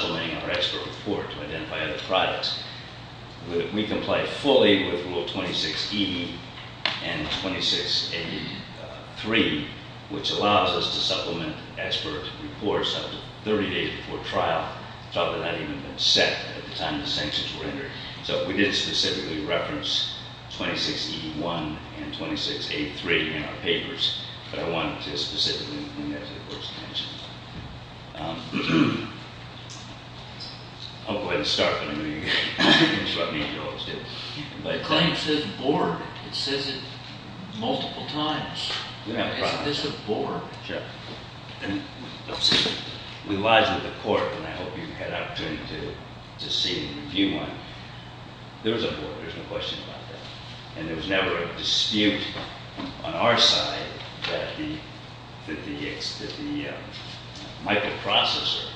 So, um, yeah, again, I would recommend the whole class here mainly because it's our Um, so having the senior students as number one on the shout team is really really helpful to come up with recommendations for number three on this item. In this case it is number 071016, all computers against Intel, published history of evolution. I'm not going to scratch anything with this, I'll put it on the floor. May it please the court, if I may ask the court's indulgence before we get into the questions, I'm sure you have a lot of them. I want to mention something briefly that was not specifically mentioned in our papers. It relates to the sanctions. And I just wanted to point out that the sanctions were recluded from basically supplementing our expert report to identify other products. We comply fully with rule 26E and 26A3, which allows us to supplement expert reports up to 30 days before trial. Thought that had even been set at the time the sanctions were entered. So we didn't specifically reference 26E1 and 26A3 in our papers. But I wanted to specifically, as the court's mentioned. I'll go ahead and start, but I mean, you can interrupt me if you always do. The claim says Borg. It says it multiple times. Is this a Borg? Sure. And we lodged with the court, and I hope you had an opportunity to see and review one. There's a Borg, there's no question about that. And there was never a dispute on our side that the microprocessor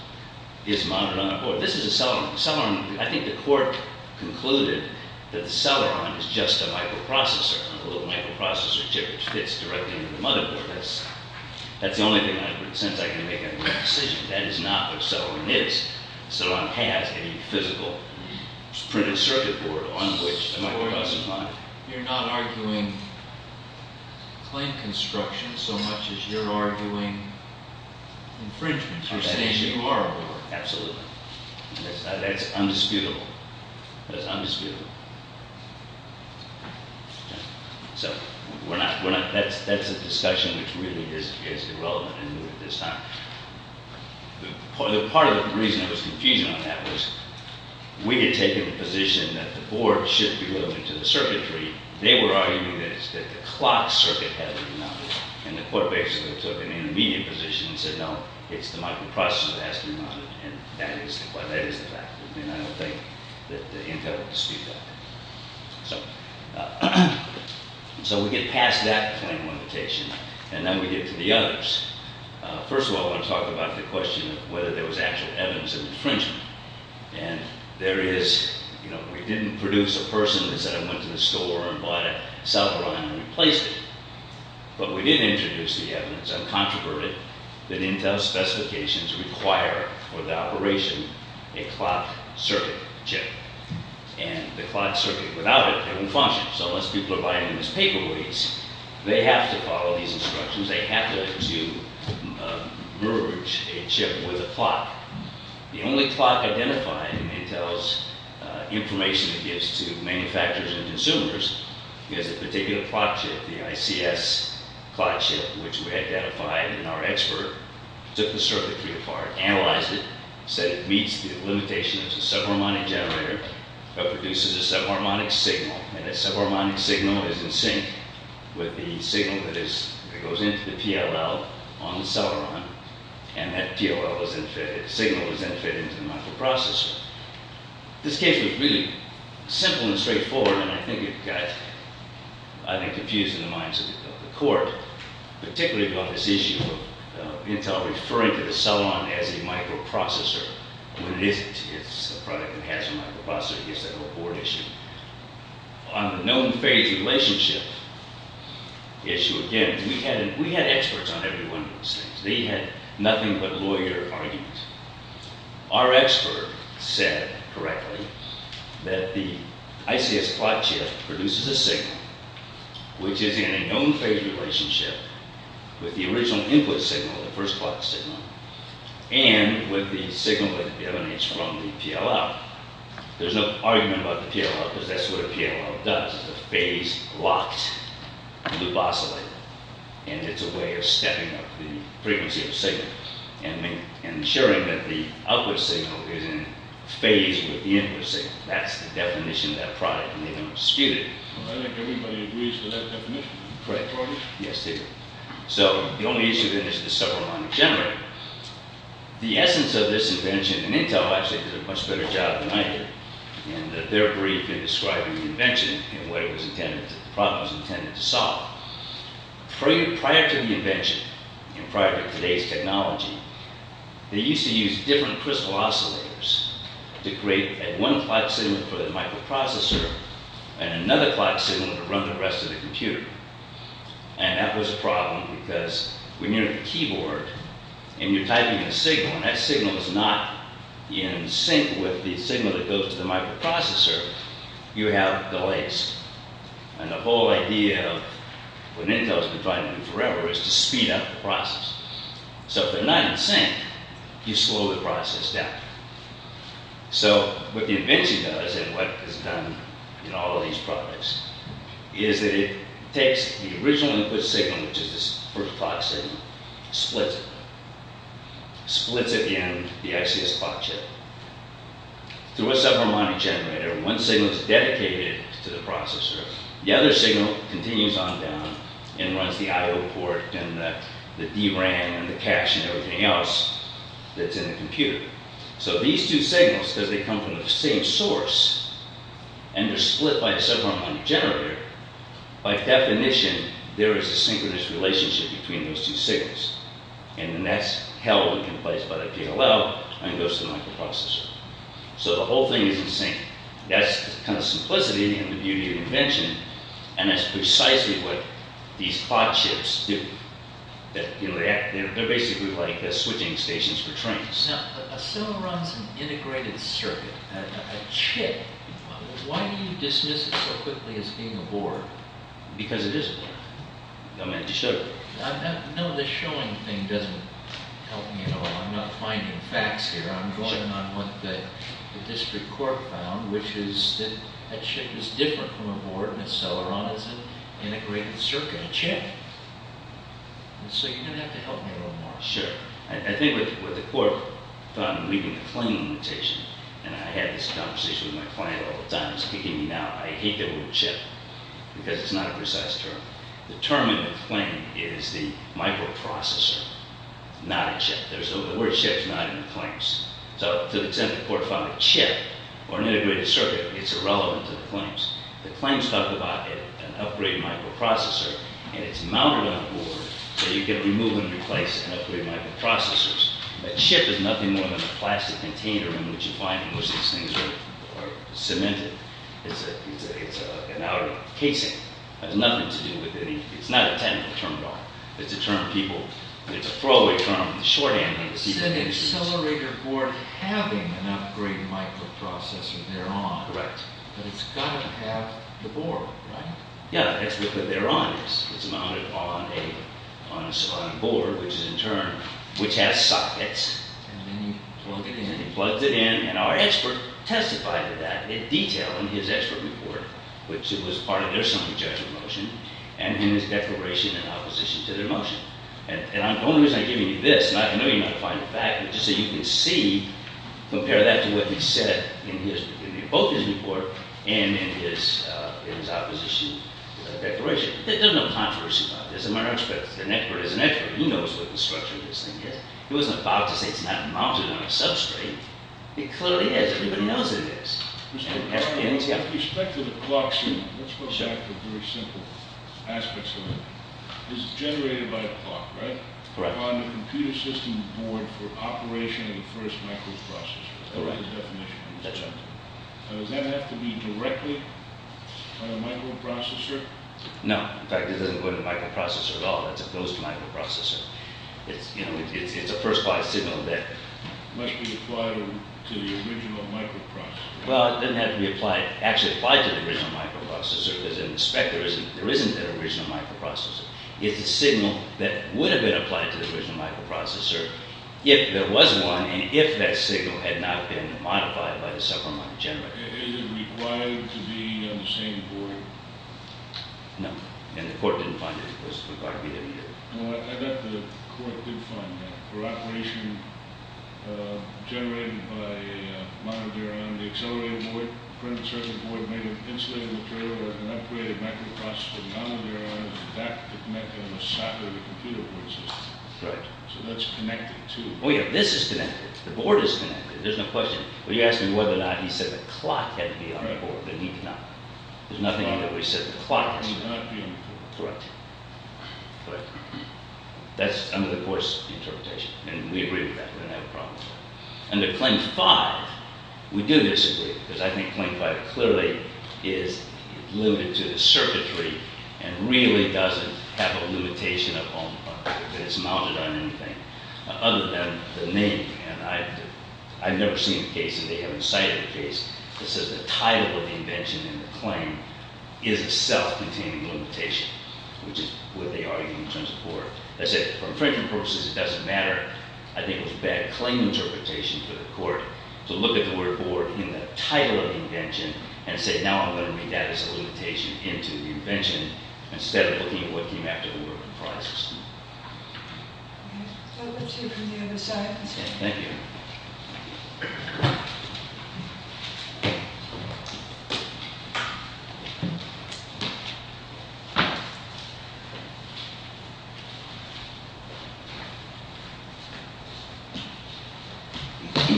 is mounted on a Borg. This is a Celeron. I think the court concluded that the Celeron is just a microprocessor, a little microprocessor chip which fits directly into the motherboard. That's the only thing I could sense I could make a decision. That is not what Celeron is. Celeron has a physical printed circuit board on which the microprocessor is mounted. You're not arguing claim construction so much as you're arguing infringement. You're saying you are a Borg. Absolutely. That's undisputable. That's undisputable. So that's a discussion which really is irrelevant in this time. The part of the reason I was confused on that was we had taken a position that the Borg should be loaded into the circuitry. They were arguing that it's that the clock circuit had been mounted. And the court basically took an immediate position and said, no, it's the microprocessor that has to be mounted, and that is the fact. And I don't think that the incumbent disputed that. So we get past that claim limitation, and then we get to the others. First of all, I wanna talk about the question of whether there was actual evidence of infringement. And there is, we didn't produce a person that said I went to the store and bought a cell phone and replaced it. But we did introduce the evidence, uncontroverted, that Intel specifications require for the operation a clock circuit chip. And the clock circuit, without it, it won't function. So unless people are buying these paperweights, they have to follow these instructions. They have to merge a chip with a clock. The only clock identified in Intel's information it gives to manufacturers and consumers is a particular clock chip, the ICS clock chip, which we identified in our expert, took the circuitry apart, analyzed it, said it meets the limitation of the subharmonic generator that produces a subharmonic signal, and that subharmonic signal is in sync with the signal that goes into the PLL on the cell phone, and that PLL signal is then fed into the microprocessor. This case was really simple and straightforward, and I think it got, I think, confused in the minds of the court, particularly about this issue of Intel referring to the cell phone as a microprocessor when it isn't. It's a product that has a microprocessor. It's a whole board issue. On the known phase relationship issue, again, we had experts on every one of those things. They had nothing but lawyer arguments. Our expert said correctly that the ICS clock chip produces a signal, which is in a known phase relationship with the original input signal, the first clock signal, and with the signal that emanates from the PLL. There's no argument about the PLL, because that's what a PLL does. It's a phase-locked loop oscillator, and it's a way of stepping up the frequency of the signal and ensuring that the output signal is in phase with the input signal. That's the definition of that product, and they don't dispute it. I think everybody agrees with that definition. Correct. Yes, they do. So the only issue then is the subharmonic generator. The essence of this invention, and Intel actually did a much better job than I did in their brief in describing the invention and what the problem was intended to solve. Prior to the invention, and prior to today's technology, they used to use different crystal oscillators to create one clock signal for the microprocessor and another clock signal to run the rest of the computer. And that was a problem, because when you're at the keyboard and you're typing a signal, and that signal is not in sync with the signal that goes to the microprocessor, you have delays. And the whole idea of, when Intel's been trying to do forever, is to speed up the process. So if they're not in sync, you slow the process down. So what the invention does, and what it has done in all of these products, is that it takes the original input signal, which is this first clock signal, splits it, splits it in the ICS clock chip. Through a subharmonic generator, one signal is dedicated to the processor. The other signal continues on down and runs the IO port and the DRAM and the cache and everything else that's in the computer. So these two signals, because they come from the same source, and they're split by a subharmonic generator, by definition, there is a synchronous relationship between those two signals. And then that's held in place by the PLL and goes to the microprocessor. So the whole thing is in sync. That's the kind of simplicity and the beauty of the invention, and that's precisely what these clock chips do. They're basically like the switching stations for trains. A Celeron's an integrated circuit, a chip. Why do you dismiss it so quickly as being a board? Because it is a board. I meant to show you. No, the showing thing doesn't help me at all. I'm not finding facts here. I'm drawing on what the district court found, which is that a chip is different from a board, and a Celeron is an integrated circuit, a chip. So you're gonna have to help me a little more. Sure, I think what the court found in reading the claim limitation, and I had this conversation with my client all the time, he's speaking to me now. I hate the word chip, because it's not a precise term. The term in the claim is the microprocessor, not a chip. There's no, the word chip's not in the claims. So to the extent the court found a chip or an integrated circuit, it's irrelevant to the claims. The claims talk about an upgraded microprocessor, and it's mounted on a board, and it's going to replace an upgraded microprocessor. A chip is nothing more than a plastic container in which you find most of these things are cemented. It's an outer casing. It has nothing to do with any, it's not a technical term at all. It's a term people, it's a throwaway term, it's a shorthand. It's an accelerator board having an upgraded microprocessor there on. Correct. But it's gotta have the board, right? Yeah, that's what they're on. It's mounted on a board, which is in turn, which has sockets. And then you plug it in. He plugs it in, and our expert testified to that in detail in his expert report, which was part of their summary judgment motion, and in his declaration in opposition to their motion. And the only reason I'm giving you this, and I know you're not going to find it back, but just so you can see, compare that to what he said in both his report and in his opposition declaration. There's no controversy about this. As a matter of fact, an expert is an expert. He knows what the structure of this thing is. He wasn't about to say it's not mounted on a substrate. It clearly is. Everybody knows it is. And it's got- With respect to the clocks, let's go back to very simple aspects of it. This is generated by a clock, right? Correct. On the computer system board for operation of the first microprocessor. Correct. That's right. Now, does that have to be directly on a microprocessor? No. In fact, it doesn't go to the microprocessor at all. That's a ghost microprocessor. It's a first-class signal that- Must be applied to the original microprocessor. Well, it doesn't have to be actually applied to the original microprocessor, because in the spec, there isn't an original microprocessor. It's a signal that would have been applied to the original microprocessor if there was one, and if that signal had not been modified by the separate microgenerator. Is it required to be on the same board? No. And the court didn't find any place to require it to be anywhere? Well, I bet the court did find that. For operation generated by a monoduron, the accelerator board, the printed circuit board, made an insulated material or an upgraded microprocessor, the monoduron is in fact connected to the socket of the computer board system. Correct. So that's connected, too. Oh, yeah. This is connected. The board is connected. There's no question. Well, you asked me whether or not he said the clock had to be on the board, and he did not. There's nothing in there where he said the clock had to be on the board. Correct. Correct. That's under the court's interpretation, and we agree with that. We don't have a problem with that. Under Claim 5, we do disagree, because I think Claim 5 clearly is limited to the circuitry and really doesn't have a limitation upon the fact that it's mounted on anything other than the name. I've never seen a case, and they haven't cited a case, that says the title of the invention in the claim is itself containing the limitation, which is what they argue in terms of the board. They say, for frankly purposes, it doesn't matter. I think it was a bad claim interpretation for the court to look at the word board in the title of the invention and say, now I'm going to make that as a limitation into the invention instead of looking at what came after the word process. Thank you.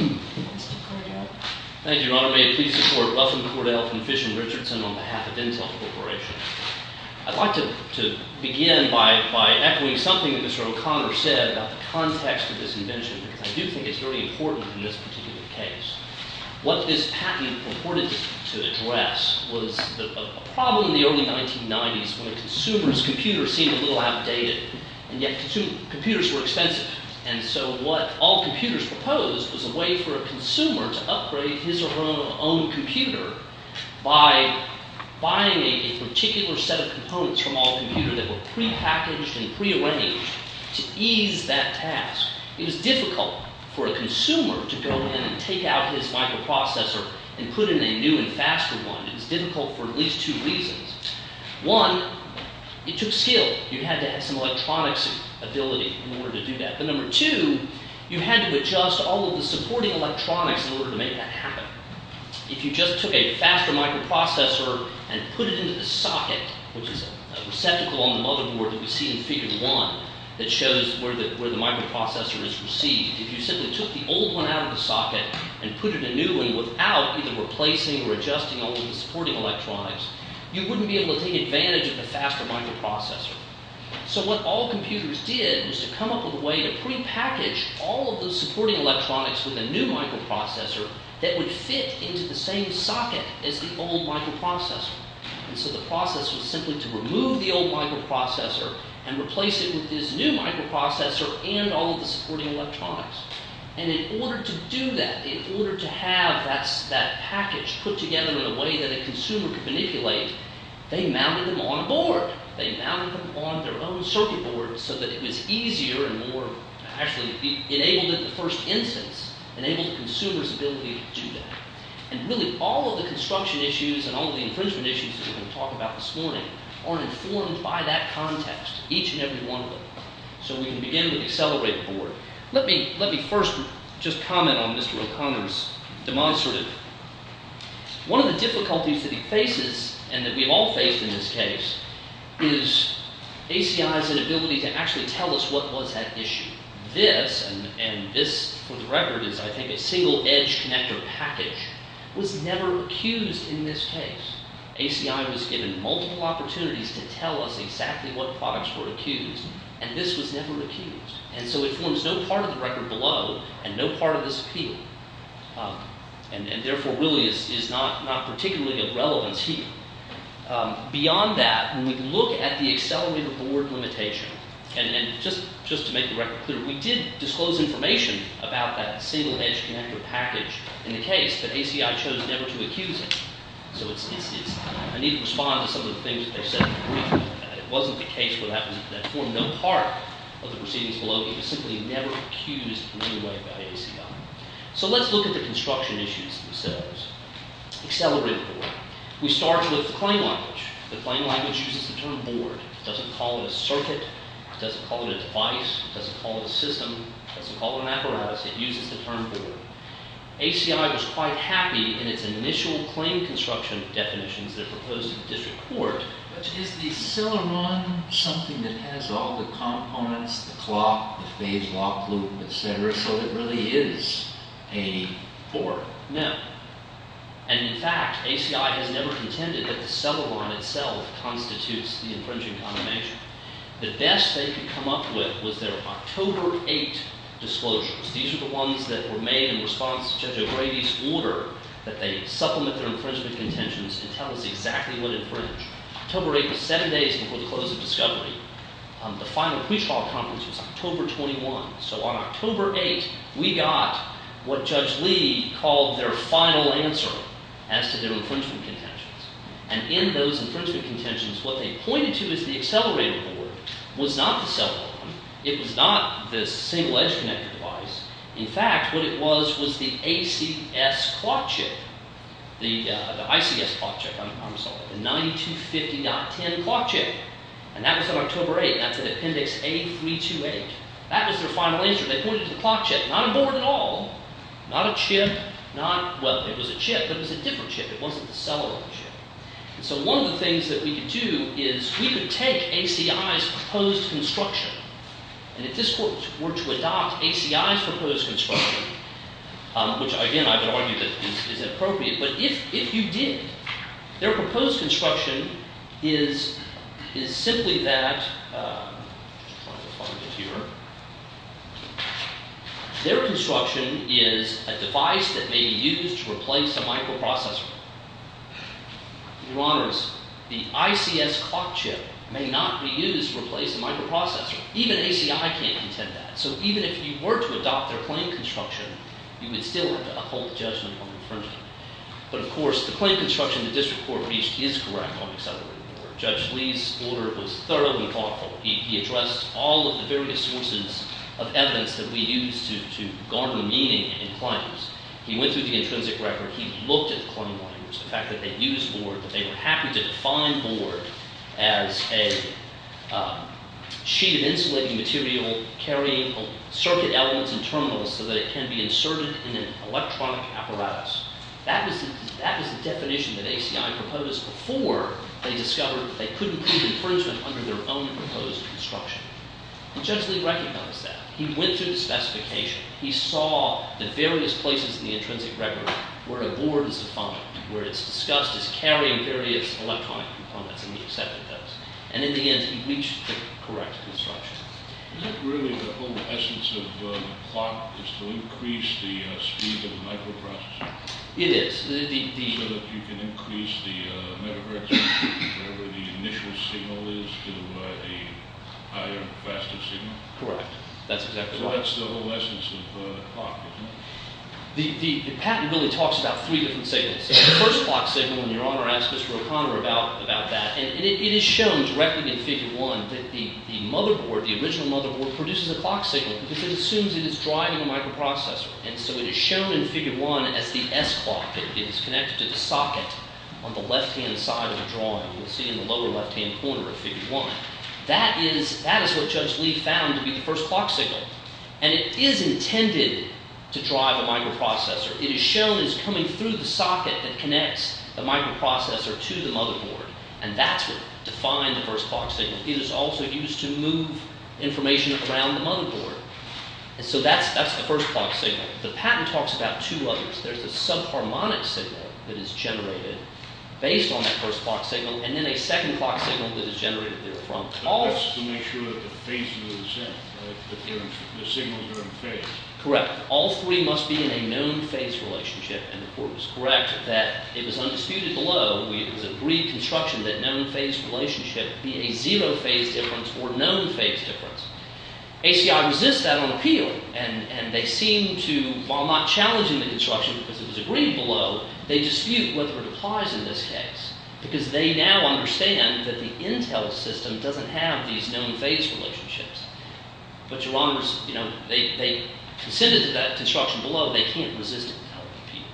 Mr. Cordell. Thank you, Your Honor. May it please the court, Ruffin Cordell from Fish and Richardson on behalf of Intel Corporation. I'd like to begin by echoing something that Mr. O'Connor said about the context of this invention, because I do think it's very important in this particular case. What this patent purported to address was a problem in the early 1990s when a consumer's computer seemed a little outdated, and yet computers were expensive. And so what all computers proposed was a way for a consumer to upgrade his or her own computer by buying a particular set of components from all computers that were pre-packaged and pre-arranged to ease that task. It was difficult for a consumer to go in and take out his microprocessor and put in a new and faster one. It was difficult for at least two reasons. One, it took skill. You had to have some electronics ability in order to do that. But number two, you had to adjust all of the supporting electronics in order to make that happen. If you just took a faster microprocessor and put it into the socket, which is a receptacle on the motherboard that we see in Figure 1 that shows where the microprocessor is received. If you simply took the old one out of the socket and put in a new one without either replacing or adjusting all of the supporting electronics, you wouldn't be able to take advantage of the faster microprocessor. So what all computers did was to come up with a way to pre-package all of the supporting electronics with a new microprocessor that would fit into the same socket as the old microprocessor. And so the process was simply to remove the old microprocessor and replace it with this new microprocessor and all of the supporting electronics. And in order to do that, in order to have that package put together in a way that a consumer could manipulate, they mounted them on a board. They mounted them on their own circuit board so that it was easier and more... Actually, it enabled it in the first instance. It enabled the consumer's ability to do that. And really, all of the construction issues and all of the infringement issues that we're going to talk about this morning are informed by that context, each and every one of them. So we can begin with the accelerated board. Let me first just comment on Mr. O'Connor's demise. One of the difficulties that he faces, and that we've all faced in this case, is ACI's inability to actually tell us what was at issue. This, and this for the record is I think a single edge connector package, was never accused in this case. ACI was given multiple opportunities to tell us exactly what products were accused and this was never accused. And so it forms no part of the record below and no part of this appeal and therefore really is not particularly of relevance here. Beyond that, when we look at the accelerated board limitation, and just to make the record clear, we did disclose information about that single edge connector package in the case, but ACI chose never to accuse it. So I need to respond to some of the things that they've said in the brief and it wasn't the case where that formed no part of the proceedings below. It was simply never accused in any way by ACI. So let's look at the construction issues themselves. Accelerated board. We start with the claim language. The claim language uses the term board. It doesn't call it a circuit. It doesn't call it a device. It doesn't call it a system. It doesn't call it an apparatus. It uses the term board. ACI was quite happy in its initial claim construction definitions that were proposed in the district court. But is the acceleron something that has all the components, the clock, the phase locked loop, et cetera, so it really is a board? No. And in fact, ACI has never contended that the acceleron itself constitutes the infringing condemnation. The best they could come up with was their October 8 disclosures. These are the ones that were made in response to Judge O'Grady's order that they supplement their infringement contentions and tell us exactly what infringed. October 8 was seven days before the close of discovery. The final pre-trial conference was October 21. So on October 8, we got what Judge Lee called their final answer as to their infringement contentions. And in those infringement contentions, what they pointed to as the accelerator board was not the acceleron. It was not the single edge connected device. In fact, what it was was the ACS clock chip. The ICS clock chip. I'm sorry. The 9250.10 clock chip. And that was on October 8. That's at appendix A328. That was their final answer. They pointed to the clock chip. Not on board at all. Not a chip. Not, well, it was a chip. But it was a different chip. It wasn't the acceleron chip. So one of the things that we could do is we could take ACI's proposed construction. And if this court were to adopt ACI's proposed construction, which, again, I would argue that is inappropriate, but if you did, their proposed construction is simply that I'm just trying to find it here. Their construction is a device that may be used to replace a microprocessor. Your Honors, the ICS clock chip may not be used to replace a microprocessor. Even ACI can't contend that. So even if you were to adopt their claimed construction, you would still have to uphold judgment on the infringement. But of course, the claimed construction the district court reached is correct on the accelerator board. Judge Lee's order was thoroughly thoughtful. He addressed all of the various sources of evidence that we use to garner meaning in claims. He went through the intrinsic record. He looked at the claim lawyers, the fact that they used board, that they were happy to define board as a sheet of insulating material carrying circuit elements and terminals so that it can be inserted in an electronic apparatus. That was the definition that ACI proposed before they discovered that they couldn't prove infringement under their own proposed construction. Judge Lee recognized that. He went through the specification. He saw the various places in the intrinsic record where a board is defined, where it's discussed as carrying various electronic components, and he accepted those. And in the end, he reached the correct construction. Is that really the whole essence of the plot is to increase the speed of the microprocessor? It is. So that you can increase the megahertz of whatever the initial signal is to a higher, faster signal? Correct. That's exactly right. So that's the whole essence of the plot, isn't it? The patent really talks about three different signals. The first clock signal, and Your Honor asked Mr. O'Connor about that, and it is shown directly in Figure 1 that the motherboard, the original motherboard, produces a clock signal because it assumes that it's driving a microprocessor. And so it is shown in Figure 1 as the S clock. It is connected to the socket on the left-hand side of the drawing. You'll see in the lower left-hand corner of Figure 1. That is what Judge Lee found to be the first clock signal. And it is intended to drive a microprocessor. It is shown as coming through the socket that connects the microprocessor to the motherboard. And that's what defined the first clock signal. It is also used to move information around the motherboard. And so that's the first clock signal. The patent talks about two others. There's a sub-harmonic signal that is generated based on that first clock signal, and then a second clock signal that is generated therefrom. That's to make sure that the phase is the same, that the signals are in phase. Correct. All three must be in a known phase relationship. And the court was correct that it was undisputed below the agreed construction that known phase relationship be a zero phase difference or known phase difference. ACI resists that on appeal. And they seem to, while not challenging the construction because it was agreed below, they dispute whether it applies in this case. Because they now understand that the intel system doesn't have these known phase relationships. But your honor, you know, they consented to that construction below. They can't resist it on appeal.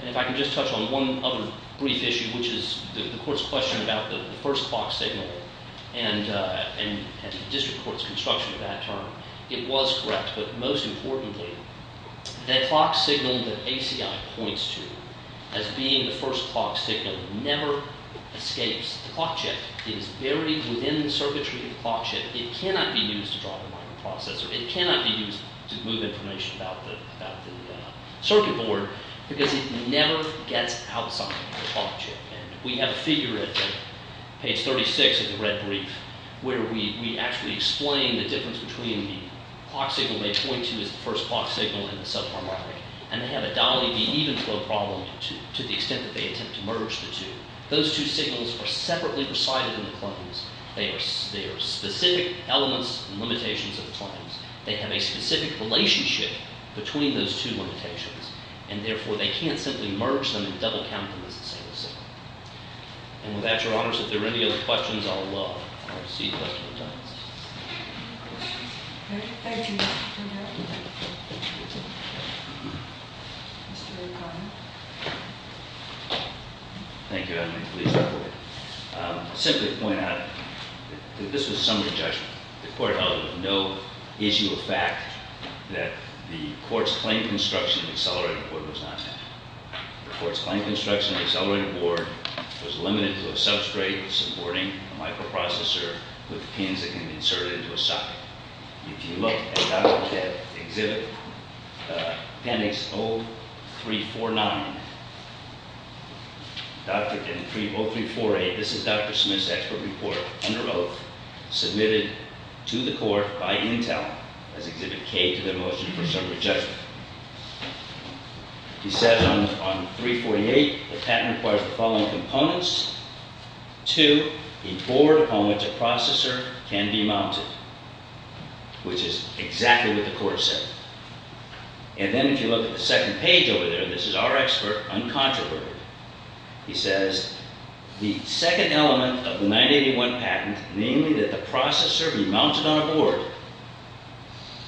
And if I can just touch on one other brief issue, which is the court's question about the first clock signal and the district court's construction of that term. It was correct. But most importantly, that clock signal that ACI points to as being the first clock signal never escapes. The clock chip is buried within the circuitry of the clock chip. It cannot be used to drive a microprocessor. It cannot be used to move information about the circuit board because it never gets outside the clock chip. We have a figure at page 36 of the red brief where we actually explain the difference between the clock signal they point to as the first clock signal and the subharmonic. And they have a dolly D even flow problem to the extent that they attempt to merge the two. Those two signals are separately resided in the claims. They are specific elements and limitations of the claims. They have a specific relationship between those two limitations. And therefore, they can't simply merge them and double count them as a single signal. And with that, your honors, if there are any other questions, please let me know. Because I would love to see questions. Thank you. Mr. O'Connor. Thank you. I simply point out that this was a summary judgment. The court held that there was no issue of fact that the court's The court's claim construction in the accelerated board was limited to a substrate supporting a microprocessor and a subharmonic signal. The court's claim construction was limited to a substrate supporting a microprocessor with pins that can be inserted into a socket. If you look at Dr. Dent's Exhibit appendix 0349 Dr. Dent 0348 This is Dr. Smith's expert report under oath submitted to the court by Intel as Exhibit K to the motion for summary judgment. He says on 348 the patent requires the following components to a board on which a processor can be mounted which is exactly what the court said. And then if you look at the second page over there this is our expert uncontroverted he says the second element of the 981 patent namely that the processor be mounted on a board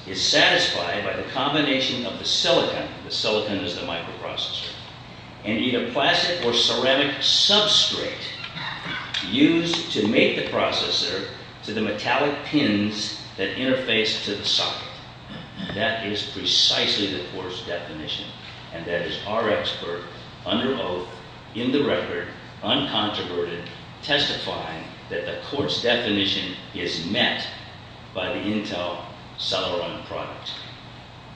is satisfied by the combination of the silicon the silicon is the microprocessor and either plastic or ceramic substrate used to make the processor to the metallic pins that interface to the socket. That is precisely the court's definition and that is our expert under oath in the record uncontroverted testifying that the court's definition is met by the Intel Celeron product.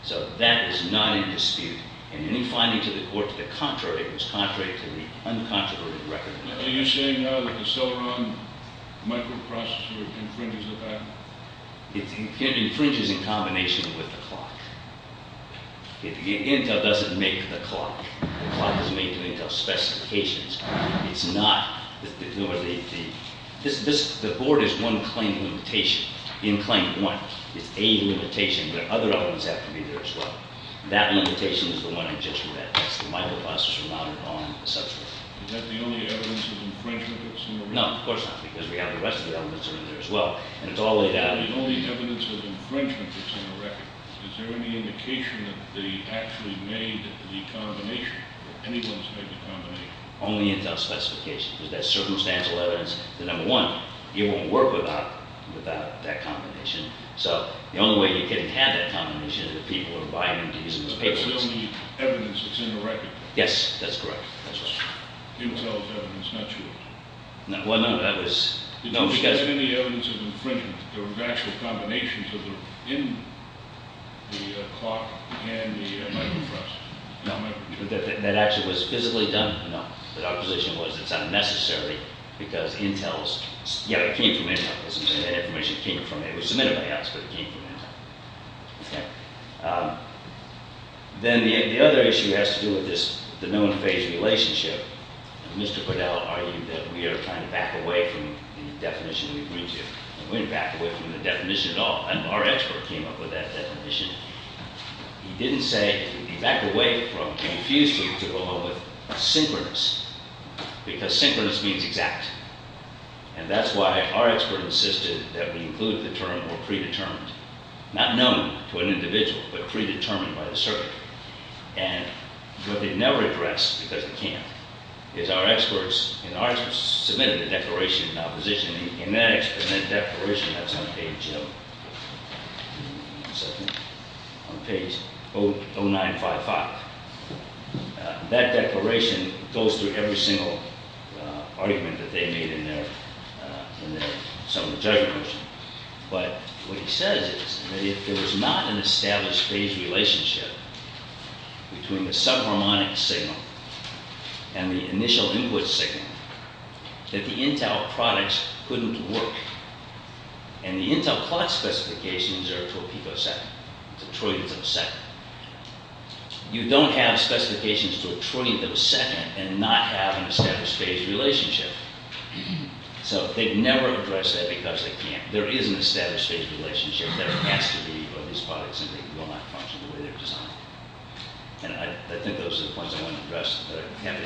So that is not in dispute and any finding to the court to the contrary was contrary to the uncontroverted record. Are you saying now that the Celeron microprocessor infringes the patent? It infringes in combination with the clock. Intel doesn't make the clock. The clock is made to Intel specifications. It's not the board is one claim limitation in claim one. It's a limitation but other elements have to be there as well. That limitation is the one I just read. That's the microprocessor mounted on the substrate. Is that the only evidence of infringement that's in the record? No, of course not because we have the rest of the evidence in there as well and it's all laid out. The only evidence of infringement that's in the record. Is there any indication that they actually made the combination or anyone made the combination? Only Intel specifications. There's that circumstantial evidence that number one it won't work without that combination. So the only way you can have that combination is if people are buying these papers. That's the only evidence that's in the record? Yes, that's correct. Intel's evidence, not yours? No, it was because there was actual combinations in the clock and the microprocessor? No, that actually was physically done. Our position was it's unnecessary because Intel's information came from our own phased relationship. Mr. Podell argued that we are trying to back away from the definition we agreed to. We didn't back away from the definition at all. Our expert came up with that definition. He didn't say back away from it. He refused to go along with synchronous because synchronous means exact. And that's why our expert insisted that we include the term predetermined not known to an individual but predetermined by the circuit. And what they never addressed because they can't is our experts submitted a declaration of opposition and that declaration is on page 0955. That declaration goes through every single argument that they made in their judgment motion. But what he that there is a relationship between the sub harmonic signal and the initial input signal that the Intel products couldn't work. And the Intel clock specifications are to a picosecond. It's a trillionth of a second. And I think those are the points I want to address. Any other questions? Thank you